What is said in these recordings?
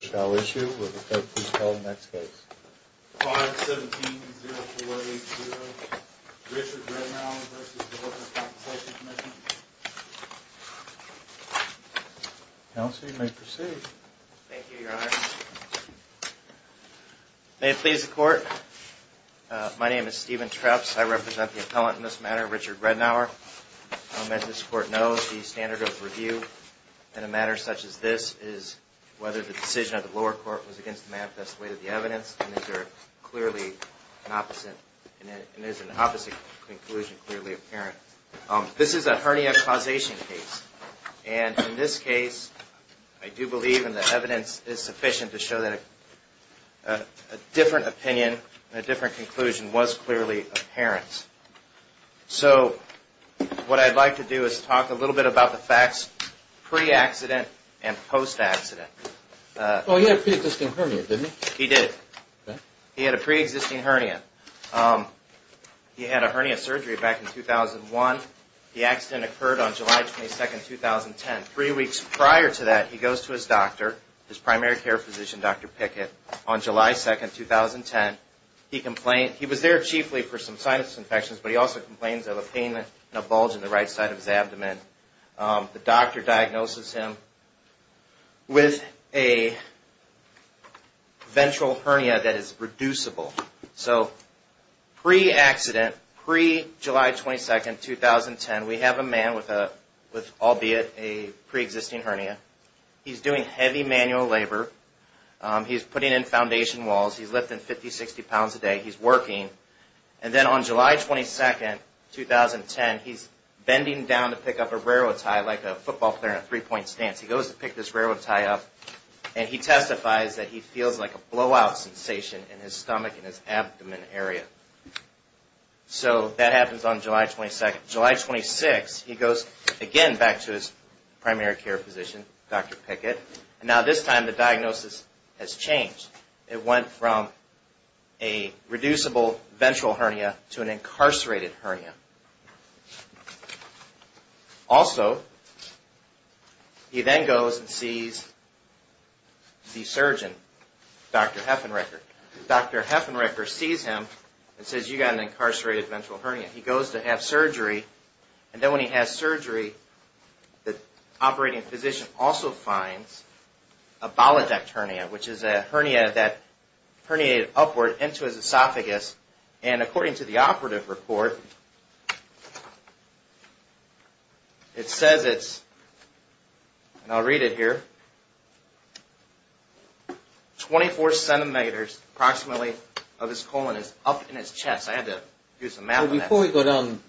shall issue, will the clerk please call the next case? 5-17-0480, Richard Rednour v. The Workers' Compensation Commission. Counsel, you may proceed. Thank you, Your Honor. May it please the Court, my name is Stephen Treps, I represent the appellant in this matter, Richard Rednour. As this Court knows, the standard of review in a matter such as this is whether the decision of the lower court was against the map that's the weight of the evidence, and is there clearly an opposite, and is an opposite conclusion clearly apparent. This is a hernia causation case, and in this case, I do believe in the evidence is sufficient to show that a different opinion and a different conclusion was clearly apparent. So, what I'd like to do is talk a little bit about the facts pre-accident and post-accident. Oh, he had a pre-existing hernia, didn't he? He did. He had a pre-existing hernia. He had a hernia surgery back in 2001. The accident occurred on July 22, 2010. Three weeks prior to that, he goes to his doctor, his primary care physician, Dr. Pickett, on July 2, 2010. He was there chiefly for some sinus infections, but he also complains of a pain and a bulge in the right side of his abdomen. The doctor diagnoses him with a ventral hernia that is reducible. So, pre-accident, pre-July 22, 2010, we have a man with, albeit, a pre-existing hernia. He's doing heavy manual labor. He's putting in foundation walls. He's lifting 50, 60 pounds a day. He's working. And then on July 22, 2010, he's bending down to pick up a railroad tie like a football player in a three-point stance. He goes to pick this railroad tie up, and he testifies that he feels like a blowout sensation in his stomach and his abdomen area. So, that happens on July 22. July 26, he goes again back to his primary care physician, Dr. Pickett. Now, this time, the diagnosis has changed. It went from a reducible ventral hernia to an incarcerated hernia. Also, he then goes and sees the surgeon, Dr. Heffenrecker. Dr. Heffenrecker sees him and says, you've got an incarcerated ventral hernia. He goes to have surgery, and then when he has surgery, the operating physician also finds a bolidecternia, which is a hernia that herniated upward into his esophagus. And according to the operative report, it says it's, and I'll read it here, 24 centimeters approximately of his colon is up in his chest. I had to do some math on that. Now, before we go down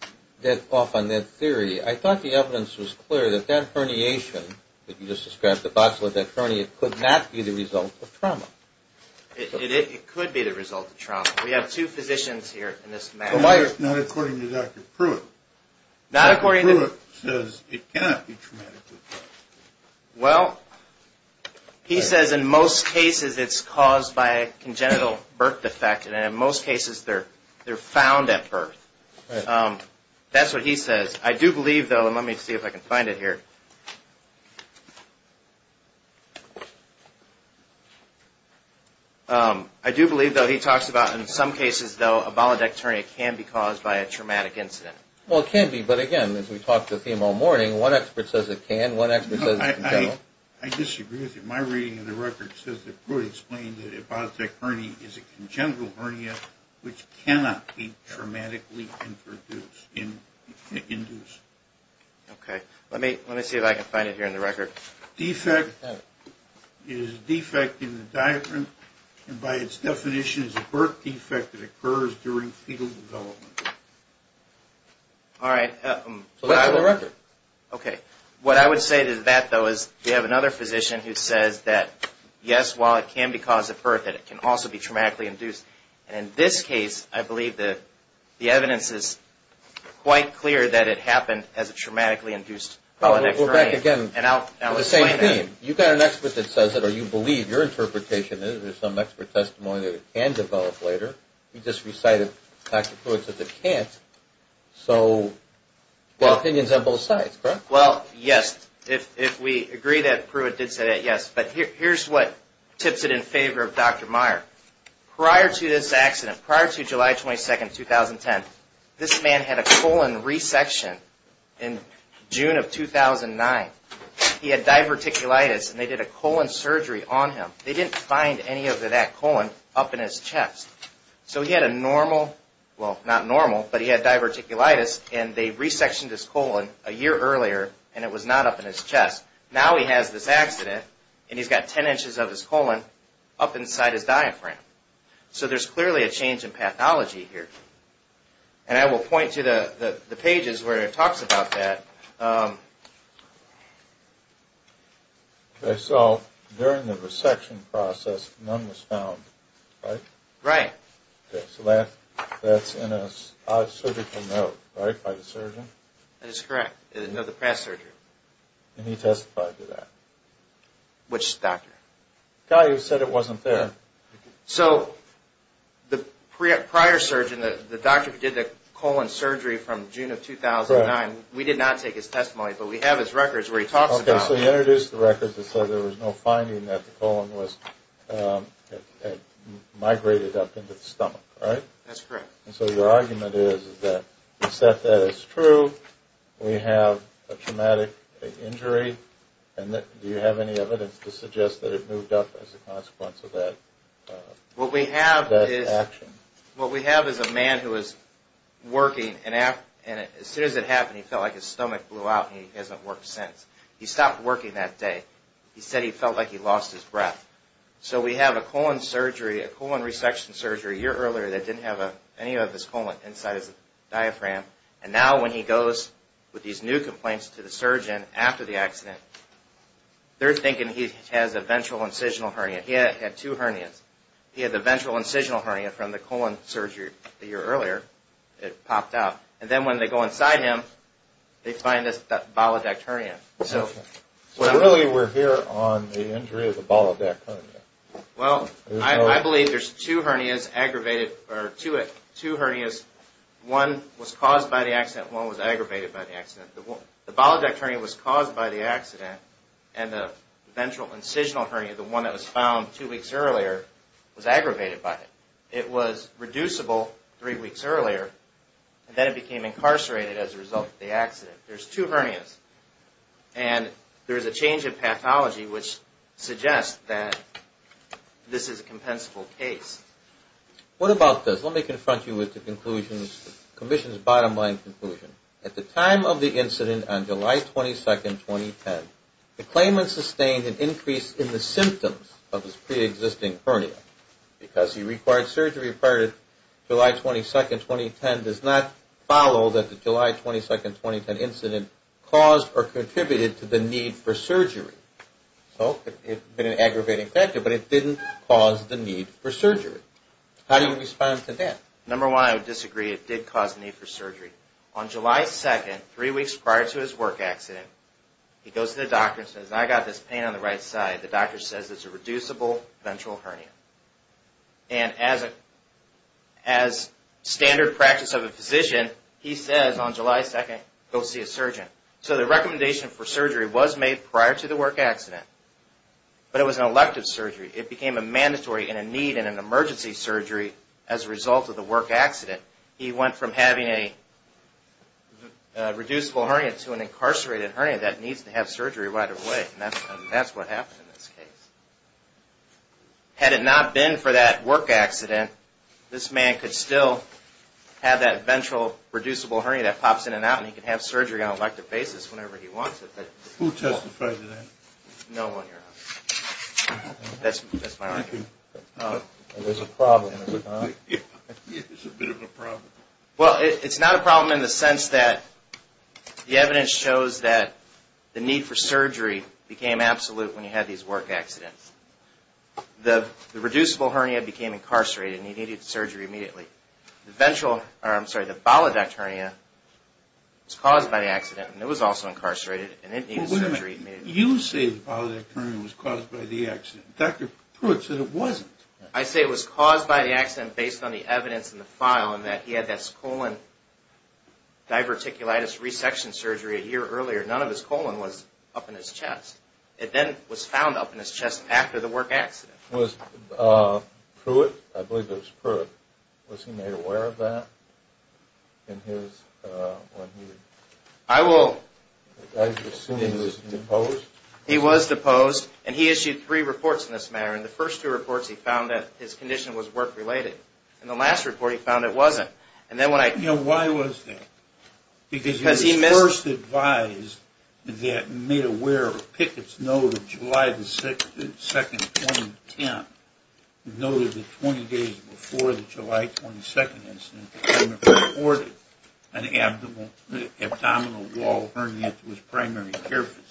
off on that theory, I thought the evidence was clear that that herniation, that you just described, the boxlet, that hernia, could not be the result of trauma. It could be the result of trauma. We have two physicians here in this matter. Not according to Dr. Pruitt. Dr. Pruitt says it cannot be traumatic. Well, he says in most cases it's caused by a congenital birth defect, and in most cases they're found at birth. That's what he says. I do believe, though, and let me see if I can find it here. I do believe, though, he talks about in some cases, though, a bolidecternia can be caused by a traumatic incident. Well, it can be, but again, as we talked with him all morning, one expert says it can, one expert says it can't. I disagree with you. My reading of the record says that Pruitt explained that a bolidecternia is a congenital hernia which cannot be traumatically induced. Okay. Let me see if I can find it here in the record. Defect is a defect in the diaphragm, and by its definition is a birth defect that occurs during fetal development. All right. So that's the record. Okay. What I would say to that, though, is we have another physician who says that, yes, while it can be caused at birth, that it can also be traumatically induced. And in this case, I believe the evidence is quite clear that it happened as a traumatically induced bolidecternia. Correct. Again, the same thing. You've got an expert that says it, or you believe your interpretation is there's some expert testimony that it can develop later. You just recited Dr. Pruitt's that it can't. So the opinion's on both sides, correct? Well, yes. If we agree that Pruitt did say that, yes. But here's what tips it in favor of Dr. Meyer. Prior to this accident, prior to July 22, 2010, this man had a colon resection in June of 2009. He had diverticulitis, and they did a colon surgery on him. They didn't find any of that colon up in his chest. So he had a normal, well, not normal, but he had diverticulitis, and they resectioned his colon a year earlier, and it was not up in his chest. Now he has this accident, and he's got 10 inches of his colon up inside his diaphragm. So there's clearly a change in pathology here. And I will point you to the pages where it talks about that. Okay, so during the resection process, none was found, right? Right. Okay, so that's in a surgical note, right, by the surgeon? That is correct. No, the past surgeon. And he testified to that. Which doctor? The guy who said it wasn't there. So the prior surgeon, the doctor who did the colon surgery from June of 2009, we did not take his testimony, but we have his records where he talks about it. Okay, so he introduced the records and said there was no finding that the colon had migrated up into the stomach, right? That's correct. And so your argument is that we set that as true, we have a traumatic injury, and do you have any evidence to suggest that it moved up as a consequence of that action? What we have is a man who was working, and as soon as it happened, he felt like his stomach blew out, and he hasn't worked since. He stopped working that day. He said he felt like he lost his breath. So we have a colon surgery, a colon resection surgery a year earlier that didn't have any of his colon inside his diaphragm, and now when he goes with these new complaints to the surgeon after the accident, they're thinking he has a ventral incisional hernia. He had two hernias. He had the ventral incisional hernia from the colon surgery a year earlier. It popped out. And then when they go inside him, they find this bolidecterium. So really we're here on the injury of the bolidecterium. Well, I believe there's two hernias aggravated, or two hernias. One was caused by the accident, and one was aggravated by the accident. The bolidecterium was caused by the accident, and the ventral incisional hernia, the one that was found two weeks earlier, was aggravated by it. It was reducible three weeks earlier, and then it became incarcerated as a result of the accident. There's two hernias, and there's a change of pathology which suggests that this is a compensable case. What about this? Let me confront you with the conclusion, the commission's bottom line conclusion. At the time of the incident on July 22, 2010, the claimant sustained an increase in the symptoms of his preexisting hernia because he required surgery prior to July 22, 2010. It does not follow that the July 22, 2010 incident caused or contributed to the need for surgery. So it could have been an aggravating factor, but it didn't cause the need for surgery. How do you respond to that? Number one, I would disagree. It did cause the need for surgery. On July 2, three weeks prior to his work accident, he goes to the doctor and says, I got this pain on the right side. The doctor says it's a reducible ventral hernia. And as standard practice of a physician, he says on July 2, go see a surgeon. So the recommendation for surgery was made prior to the work accident, but it was an elective surgery. It became a mandatory and a need in an emergency surgery as a result of the work accident. He went from having a reducible hernia to an incarcerated hernia that needs to have surgery right away. And that's what happened in this case. Had it not been for that work accident, this man could still have that ventral reducible hernia that pops in and out and he could have surgery on an elective basis whenever he wants it. Who testified to that? No one, Your Honor. That's my argument. There's a problem, is there not? It's a bit of a problem. Well, it's not a problem in the sense that the evidence shows that the need for surgery became absolute when you had these work accidents. The reducible hernia became incarcerated and he needed surgery immediately. The ventral, or I'm sorry, the bolidect hernia was caused by the accident and it was also incarcerated and it needed surgery immediately. You say the bolidect hernia was caused by the accident. Dr. Pruitt said it wasn't. I say it was caused by the accident based on the evidence in the file and that he had this colon diverticulitis resection surgery a year earlier. None of his colon was up in his chest. It then was found up in his chest after the work accident. Was Pruitt, I believe it was Pruitt, was he made aware of that in his... I will... I assume he was deposed. He was deposed and he issued three reports in this manner. In the first two reports he found that his condition was work related. In the last report he found it wasn't. And then when I... You know, why was that? Because he missed... Because he was first advised that made aware of a Pickett's Note of July 2, 2010 He noted that 20 days before the July 22 incident he reported an abdominal wall hernia to his primary care physician.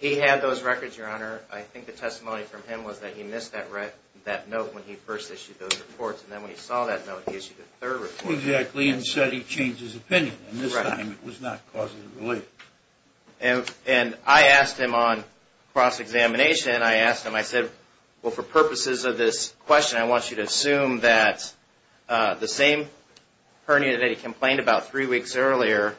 He had those records, Your Honor. I think the testimony from him was that he missed that note when he first issued those reports. And then when he saw that note he issued a third report. Exactly, and said he changed his opinion. And this time it was not causatively related. Well, for purposes of this question I want you to assume that the same hernia that he complained about three weeks earlier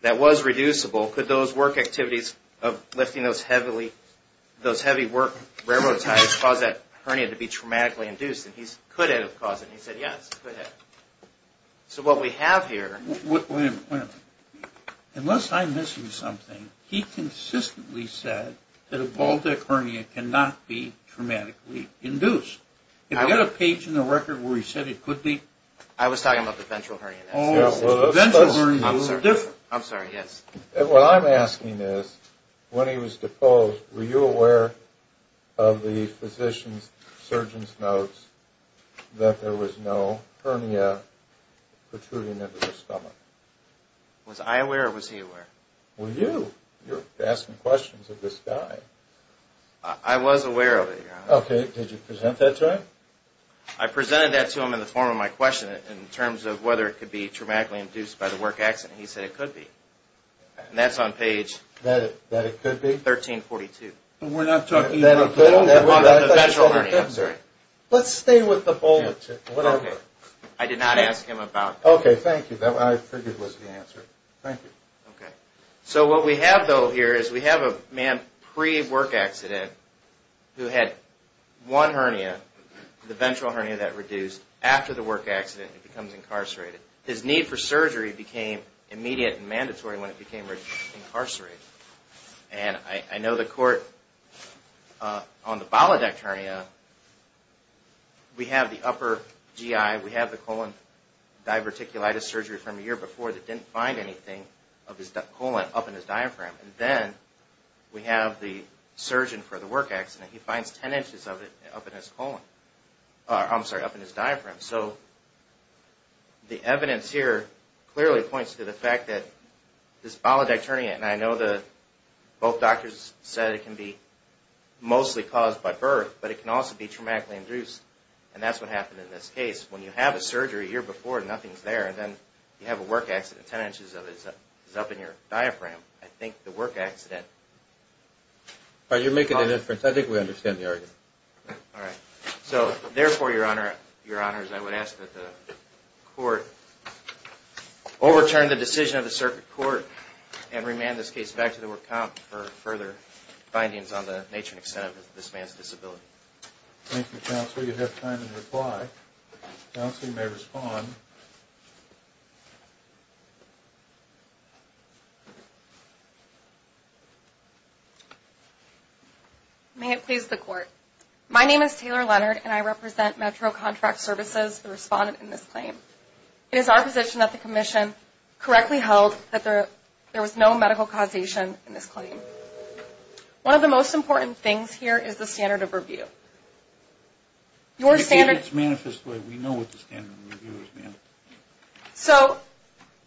that was reducible, could those work activities of lifting those heavy work railroad tires cause that hernia to be traumatically induced? And he said, could it have caused it? And he said, yes, it could have. So what we have here... Wait a minute, wait a minute. Unless I'm missing something, he consistently said that a ball deck hernia cannot be traumatically induced. Do you have a page in the record where he said it could be? I was talking about the ventral hernia. Oh, the ventral hernia was different. I'm sorry, yes. What I'm asking is, when he was deposed, were you aware of the physician's surgeon's notes that there was no hernia protruding into the stomach? Was I aware or was he aware? Well, you. You're asking questions of this guy. I was aware of it, Your Honor. Okay. Did you present that to him? I presented that to him in the form of my question in terms of whether it could be traumatically induced by the work accident. He said it could be. And that's on page... That it could be? 1342. We're not talking... The ventral hernia, I'm sorry. Let's stay with the ball deck hernia. Okay. I did not ask him about... Okay, thank you. I figured that was the answer. Thank you. Okay. So what we have though here is we have a man pre-work accident who had one hernia, the ventral hernia that reduced. After the work accident, he becomes incarcerated. His need for surgery became immediate and mandatory when he became incarcerated. And I know the court on the ball deck hernia, we have the upper GI, we have the colon diverticulitis surgery from a year before that didn't find anything of his colon up in his diaphragm. And then we have the surgeon for the work accident. He finds 10 inches of it up in his diaphragm. So the evidence here clearly points to the fact that this ball deck hernia, and I know both doctors said it can be mostly caused by birth, but it can also be traumatically induced. And that's what happened in this case. When you have a surgery a year before and nothing's there, and then you have a work accident, 10 inches of it is up in your diaphragm, I think the work accident caused it. You're making an inference. I think we understand the argument. All right. So therefore, Your Honors, I would ask that the court overturn the decision of the circuit court and remand this case back to the work comp for further findings on the nature and extent of this man's disability. Thank you, Counselor. You have time to reply. Counselor, you may respond. May it please the court. My name is Taylor Leonard, and I represent Metro Contract Services, the respondent in this claim. It is our position that the commission correctly held that there was no medical causation in this claim. One of the most important things here is the standard of review. Your standards manifest where we know what the standard of review is. So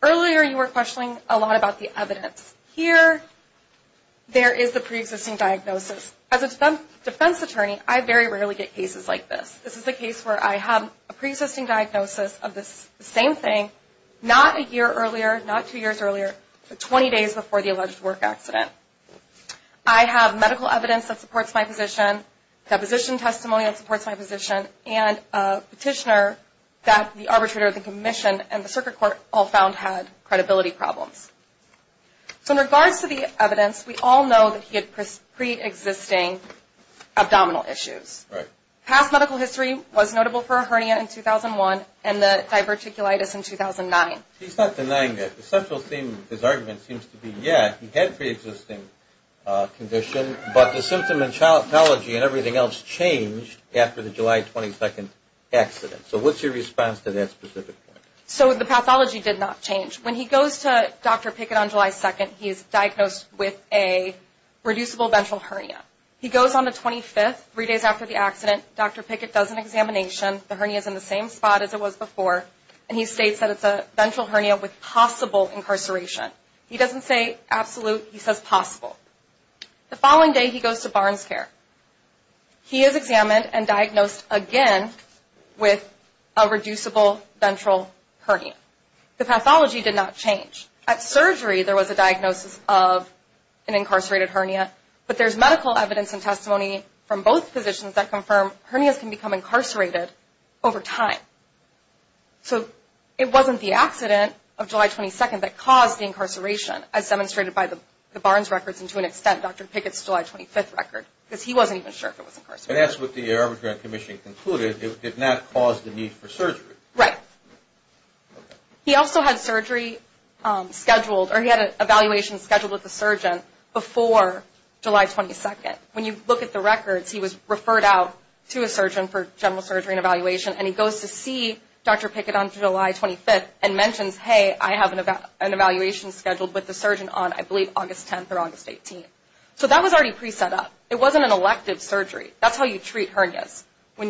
earlier you were questioning a lot about the evidence. Here there is the preexisting diagnosis. As a defense attorney, I very rarely get cases like this. This is a case where I have a preexisting diagnosis of the same thing, not a year earlier, not two years earlier, but 20 days before the alleged work accident. I have medical evidence that supports my position, deposition testimony that supports my position, and a petitioner that the arbitrator, the commission, and the circuit court all found had credibility problems. So in regards to the evidence, we all know that he had preexisting abdominal issues. Right. Past medical history was notable for a hernia in 2001 and the diverticulitis in 2009. He's not denying that. The central theme of his argument seems to be, yeah, he had a preexisting condition, but the symptom and pathology and everything else changed after the July 22nd accident. So what's your response to that specific point? So the pathology did not change. When he goes to Dr. Pickett on July 2nd, he is diagnosed with a reducible ventral hernia. He goes on the 25th, three days after the accident. Dr. Pickett does an examination. The hernia is in the same spot as it was before, and he states that it's a ventral hernia with possible incarceration. He doesn't say absolute. He says possible. The following day, he goes to BarnesCare. He is examined and diagnosed again with a reducible ventral hernia. The pathology did not change. At surgery, there was a diagnosis of an incarcerated hernia, but there's medical evidence and testimony from both physicians that confirm hernias can become incarcerated over time. So it wasn't the accident of July 22nd that caused the incarceration, as demonstrated by the Barnes records and to an extent Dr. Pickett's July 25th record, because he wasn't even sure if it was incarcerated. And that's what the Arboretum Commission concluded. It did not cause the need for surgery. Right. He also had surgery scheduled, or he had an evaluation scheduled with the surgeon before July 22nd. When you look at the records, he was referred out to a surgeon for general surgery and evaluation, and he goes to see Dr. Pickett on July 25th and mentions, hey, I have an evaluation scheduled with the surgeon on, I believe, August 10th or August 18th. So that was already pre-set up. It wasn't an elective surgery. That's how you treat hernias.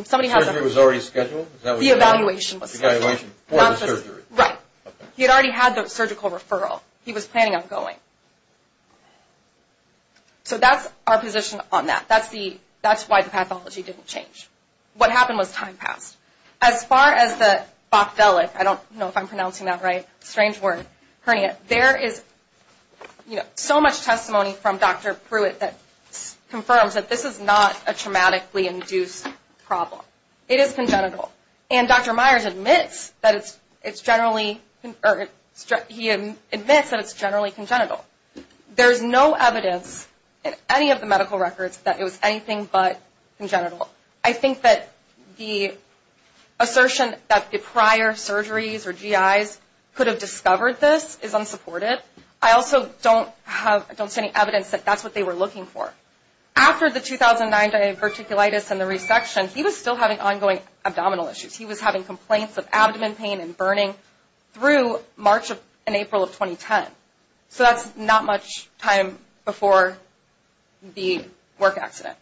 Surgery was already scheduled? The evaluation was scheduled. The evaluation before the surgery. Right. He had already had the surgical referral. He was planning on going. So that's our position on that. That's why the pathology didn't change. What happened was time passed. As far as the boccellic, I don't know if I'm pronouncing that right, strange word, hernia, there is so much testimony from Dr. Pruitt that confirms that this is not a traumatically induced problem. It is congenital. And Dr. Myers admits that it's generally congenital. There's no evidence in any of the medical records that it was anything but congenital. I think that the assertion that the prior surgeries or GIs could have discovered this is unsupported. I also don't see any evidence that that's what they were looking for. After the 2009 diverticulitis and the resection, he was still having ongoing abdominal issues. He was having complaints of abdomen pain and burning through March and April of 2010. So that's not much time before the work accident.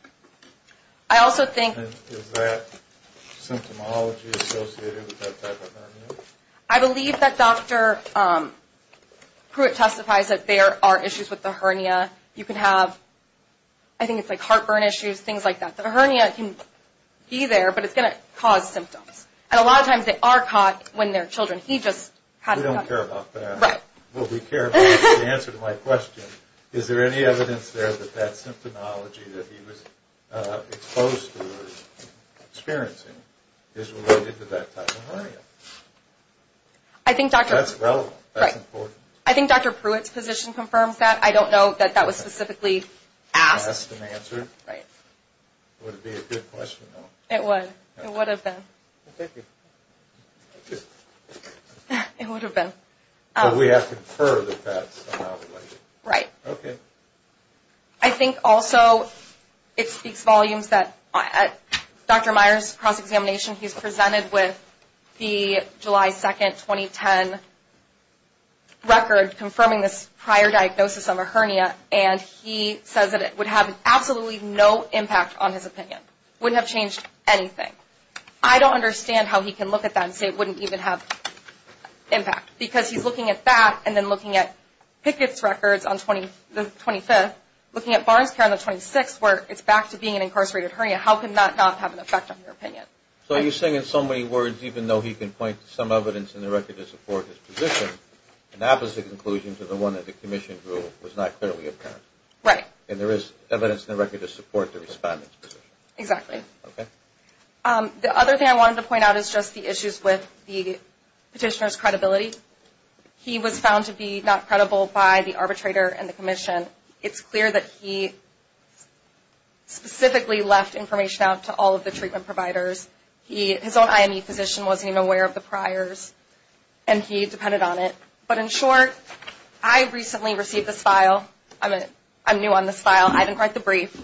I also think... Is that symptomology associated with that type of hernia? I believe that Dr. Pruitt testifies that there are issues with the hernia. You can have, I think it's like heartburn issues, things like that. The hernia can be there, but it's going to cause symptoms. And a lot of times they are caught when they're children. We don't care about that. Well, we care about the answer to my question. Is there any evidence there that that symptomology that he was exposed to or experiencing is related to that type of hernia? That's relevant. That's important. I think Dr. Pruitt's position confirms that. I don't know that that was specifically asked. Asked and answered. Right. Would it be a good question, though? It would. It would have been. Thank you. Thank you. It would have been. But we have to confer that that's somehow related. Right. Okay. I think also it speaks volumes that Dr. Myers' cross-examination, he's presented with the July 2, 2010 record confirming this prior diagnosis of a hernia, and he says that it would have absolutely no impact on his opinion. It wouldn't have changed anything. I don't understand how he can look at that and say it wouldn't even have impact, because he's looking at that and then looking at Pickett's records on the 25th, looking at Barnes Care on the 26th where it's back to being an incarcerated hernia. How can that not have an effect on your opinion? So you're saying in so many words, even though he can point to some evidence in the record to support his position, an opposite conclusion to the one that the commission drew was not clearly apparent. Right. And there is evidence in the record to support the respondent's position. Exactly. Okay. The other thing I wanted to point out is just the issues with the petitioner's credibility. He was found to be not credible by the arbitrator and the commission. It's clear that he specifically left information out to all of the treatment providers. His own IME physician wasn't even aware of the priors, and he depended on it. But in short, I recently received this file. I didn't write the brief.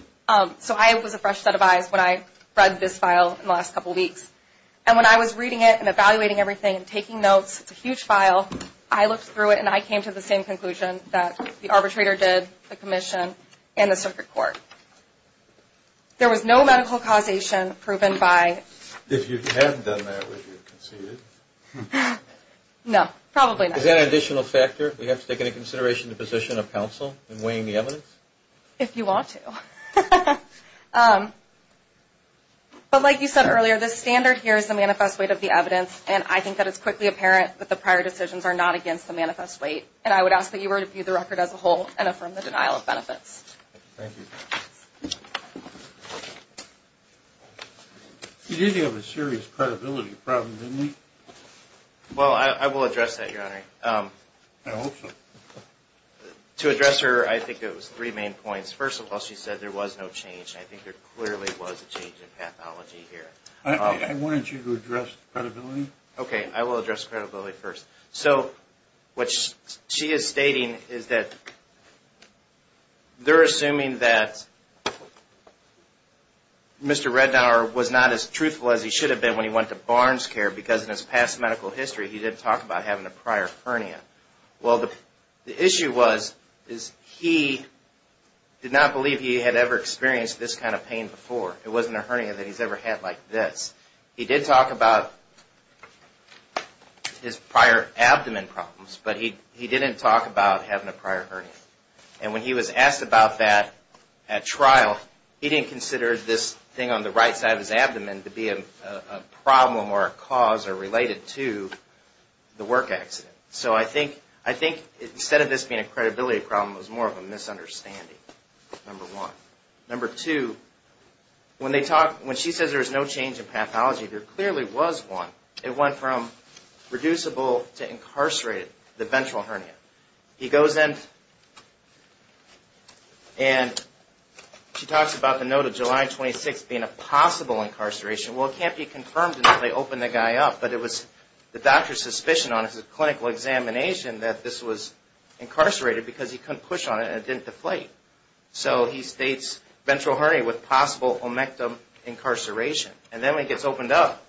So I was a fresh set of eyes when I read this file in the last couple of weeks. And when I was reading it and evaluating everything and taking notes, it's a huge file, I looked through it and I came to the same conclusion that the arbitrator did, the commission, and the circuit court. There was no medical causation proven by... If you hadn't done that, would you have conceded? No, probably not. Is that an additional factor? We have to take into consideration the position of counsel in weighing the evidence? If you want to. But like you said earlier, the standard here is the manifest weight of the evidence, and I think that it's quickly apparent that the prior decisions are not against the manifest weight. And I would ask that you review the record as a whole and affirm the denial of benefits. Thank you. You did have a serious credibility problem, didn't you? Well, I will address that, Your Honor. I hope so. To address her, I think it was three main points. First of all, she said there was no change. I think there clearly was a change in pathology here. Why don't you address credibility? Okay, I will address credibility first. So, what she is stating is that they're assuming that Mr. Rednauer was not as truthful as he should have been when he went to Barnes Care because in his past medical history he didn't talk about having a prior hernia. Well, the issue was he did not believe he had ever experienced this kind of pain before. It wasn't a hernia that he's ever had like this. He did talk about his prior abdomen problems, but he didn't talk about having a prior hernia. And when he was asked about that at trial, he didn't consider this thing on the right side of his abdomen to be a problem or a cause or related to the work accident. So, I think instead of this being a credibility problem, it was more of a misunderstanding, number one. Number two, when she says there was no change in pathology, there clearly was one. It went from reducible to incarcerated, the ventral hernia. He goes in and she talks about the note of July 26 being a possible incarceration. Well, it can't be confirmed until they open the guy up, but it was the doctor's suspicion on his clinical examination that this was incarcerated because he couldn't push on it and it didn't deflate. So, he states ventral hernia with possible omectin incarceration. And then when it gets opened up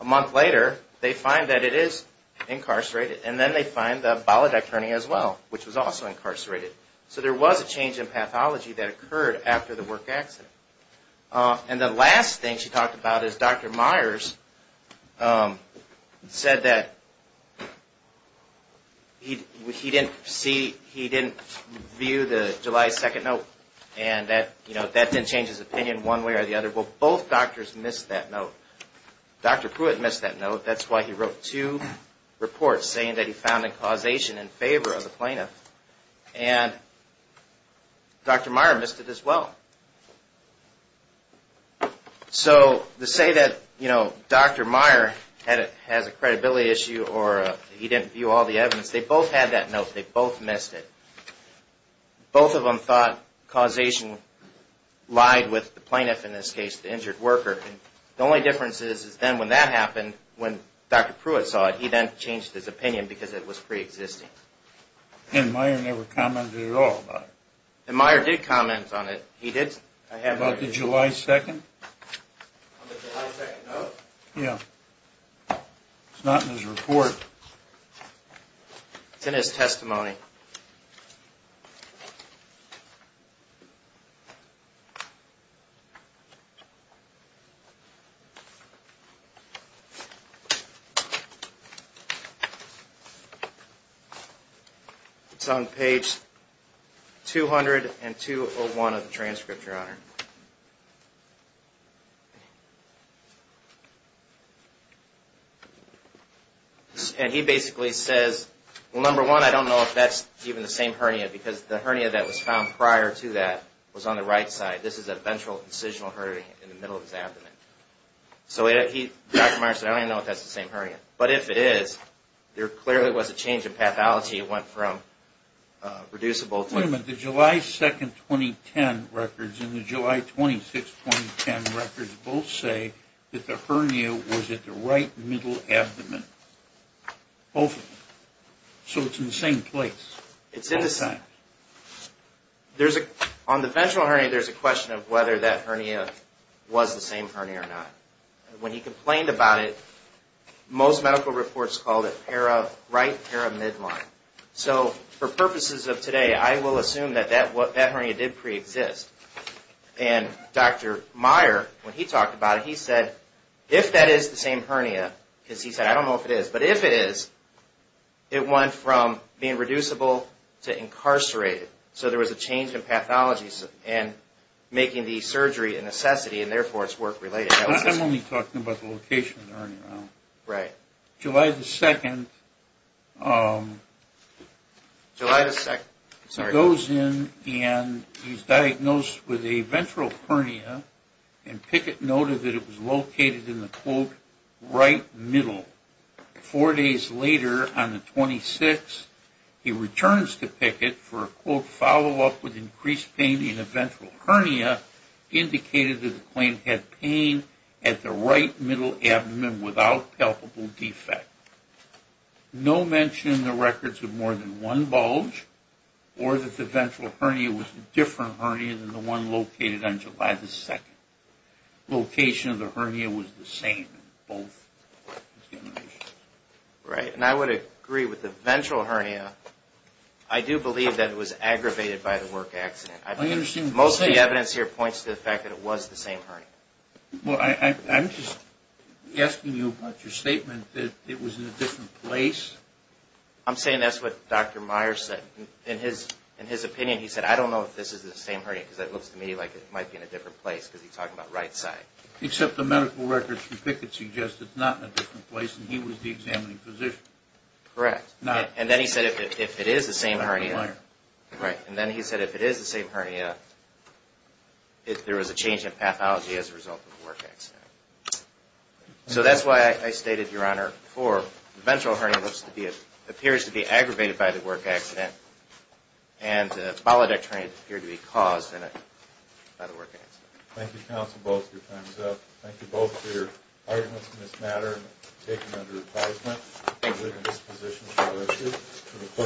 a month later, they find that it is incarcerated. And then they find the bowel duct hernia as well, which was also incarcerated. So, there was a change in pathology that occurred after the work accident. And the last thing she talked about is Dr. Myers said that he didn't view the July 2 note and that didn't change his opinion one way or the other. Well, both doctors missed that note. Dr. Pruitt missed that note. That's why he wrote two reports saying that he found a causation in favor of the plaintiff. And Dr. Myers missed it as well. So, to say that Dr. Myers has a credibility issue or he didn't view all the evidence, they both had that note. They both missed it. Both of them thought causation lied with the plaintiff, in this case, the injured worker. The only difference is then when that happened, when Dr. Pruitt saw it, he then changed his opinion because it was preexisting. And Myers never commented at all about it. And Myers did comment on it. He did. About the July 2? On the July 2 note? Yeah. It's not in his report. It's in his testimony. It's on page 200 and 201 of the transcript, Your Honor. And he basically says, well, number one, I don't know if that's even the same hernia because the hernia that was found prior to that was on the right side. This is a ventral incisional hernia in the middle of his abdomen. So Dr. Myers said, I don't even know if that's the same hernia. But if it is, there clearly was a change in pathology. It went from reducible to... Wait a minute. The July 2, 2010 records and the July 26, 2010 records both say that the hernia was at the right middle abdomen. Both of them. So it's in the same place. It's in the same... There's a... On the ventral hernia, there's a question of whether that hernia was the same hernia or not. And when he complained about it, most medical reports called it right paramidline. So for purposes of today, I will assume that that hernia did preexist. And Dr. Myers, when he talked about it, he said, if that is the same hernia, because he said, I don't know if it is, but if it is, it went from being reducible to incarcerated. So there was a change in pathology and making the surgery a necessity and, therefore, it's work-related. I'm only talking about the location of the hernia. Right. July 2nd... July 2nd. So it goes in and he's diagnosed with a ventral hernia and Pickett noted that it was located in the, quote, right middle. Four days later, on the 26th, he returns to Pickett for, quote, a follow-up with increased pain in the ventral hernia, indicated that the claimant had pain at the right middle abdomen without palpable defect. No mention in the records of more than one bulge or that the ventral hernia was a different hernia than the one located on July 2nd. Location of the hernia was the same in both. Right. And I would agree with the ventral hernia. I do believe that it was aggravated by the work accident. Most of the evidence here points to the fact that it was the same hernia. Well, I'm just asking you about your statement that it was in a different place. I'm saying that's what Dr. Myers said. In his opinion, he said, I don't know if this is the same hernia because it looks to me like it might be in a different place because he's talking about right side. Except the medical records from Pickett suggest it's not in a different place and he was the examining physician. Correct. And then he said if it is the same hernia. Right. And then he said if it is the same hernia, if there was a change in pathology as a result of the work accident. So that's why I stated, Your Honor, for the ventral hernia appears to be aggravated by the work accident and the bolidecterium appeared to be caused by the work accident. Thank you, counsel, both of your time is up. Thank you both for your arguments in this matter Thank you, Your Honor.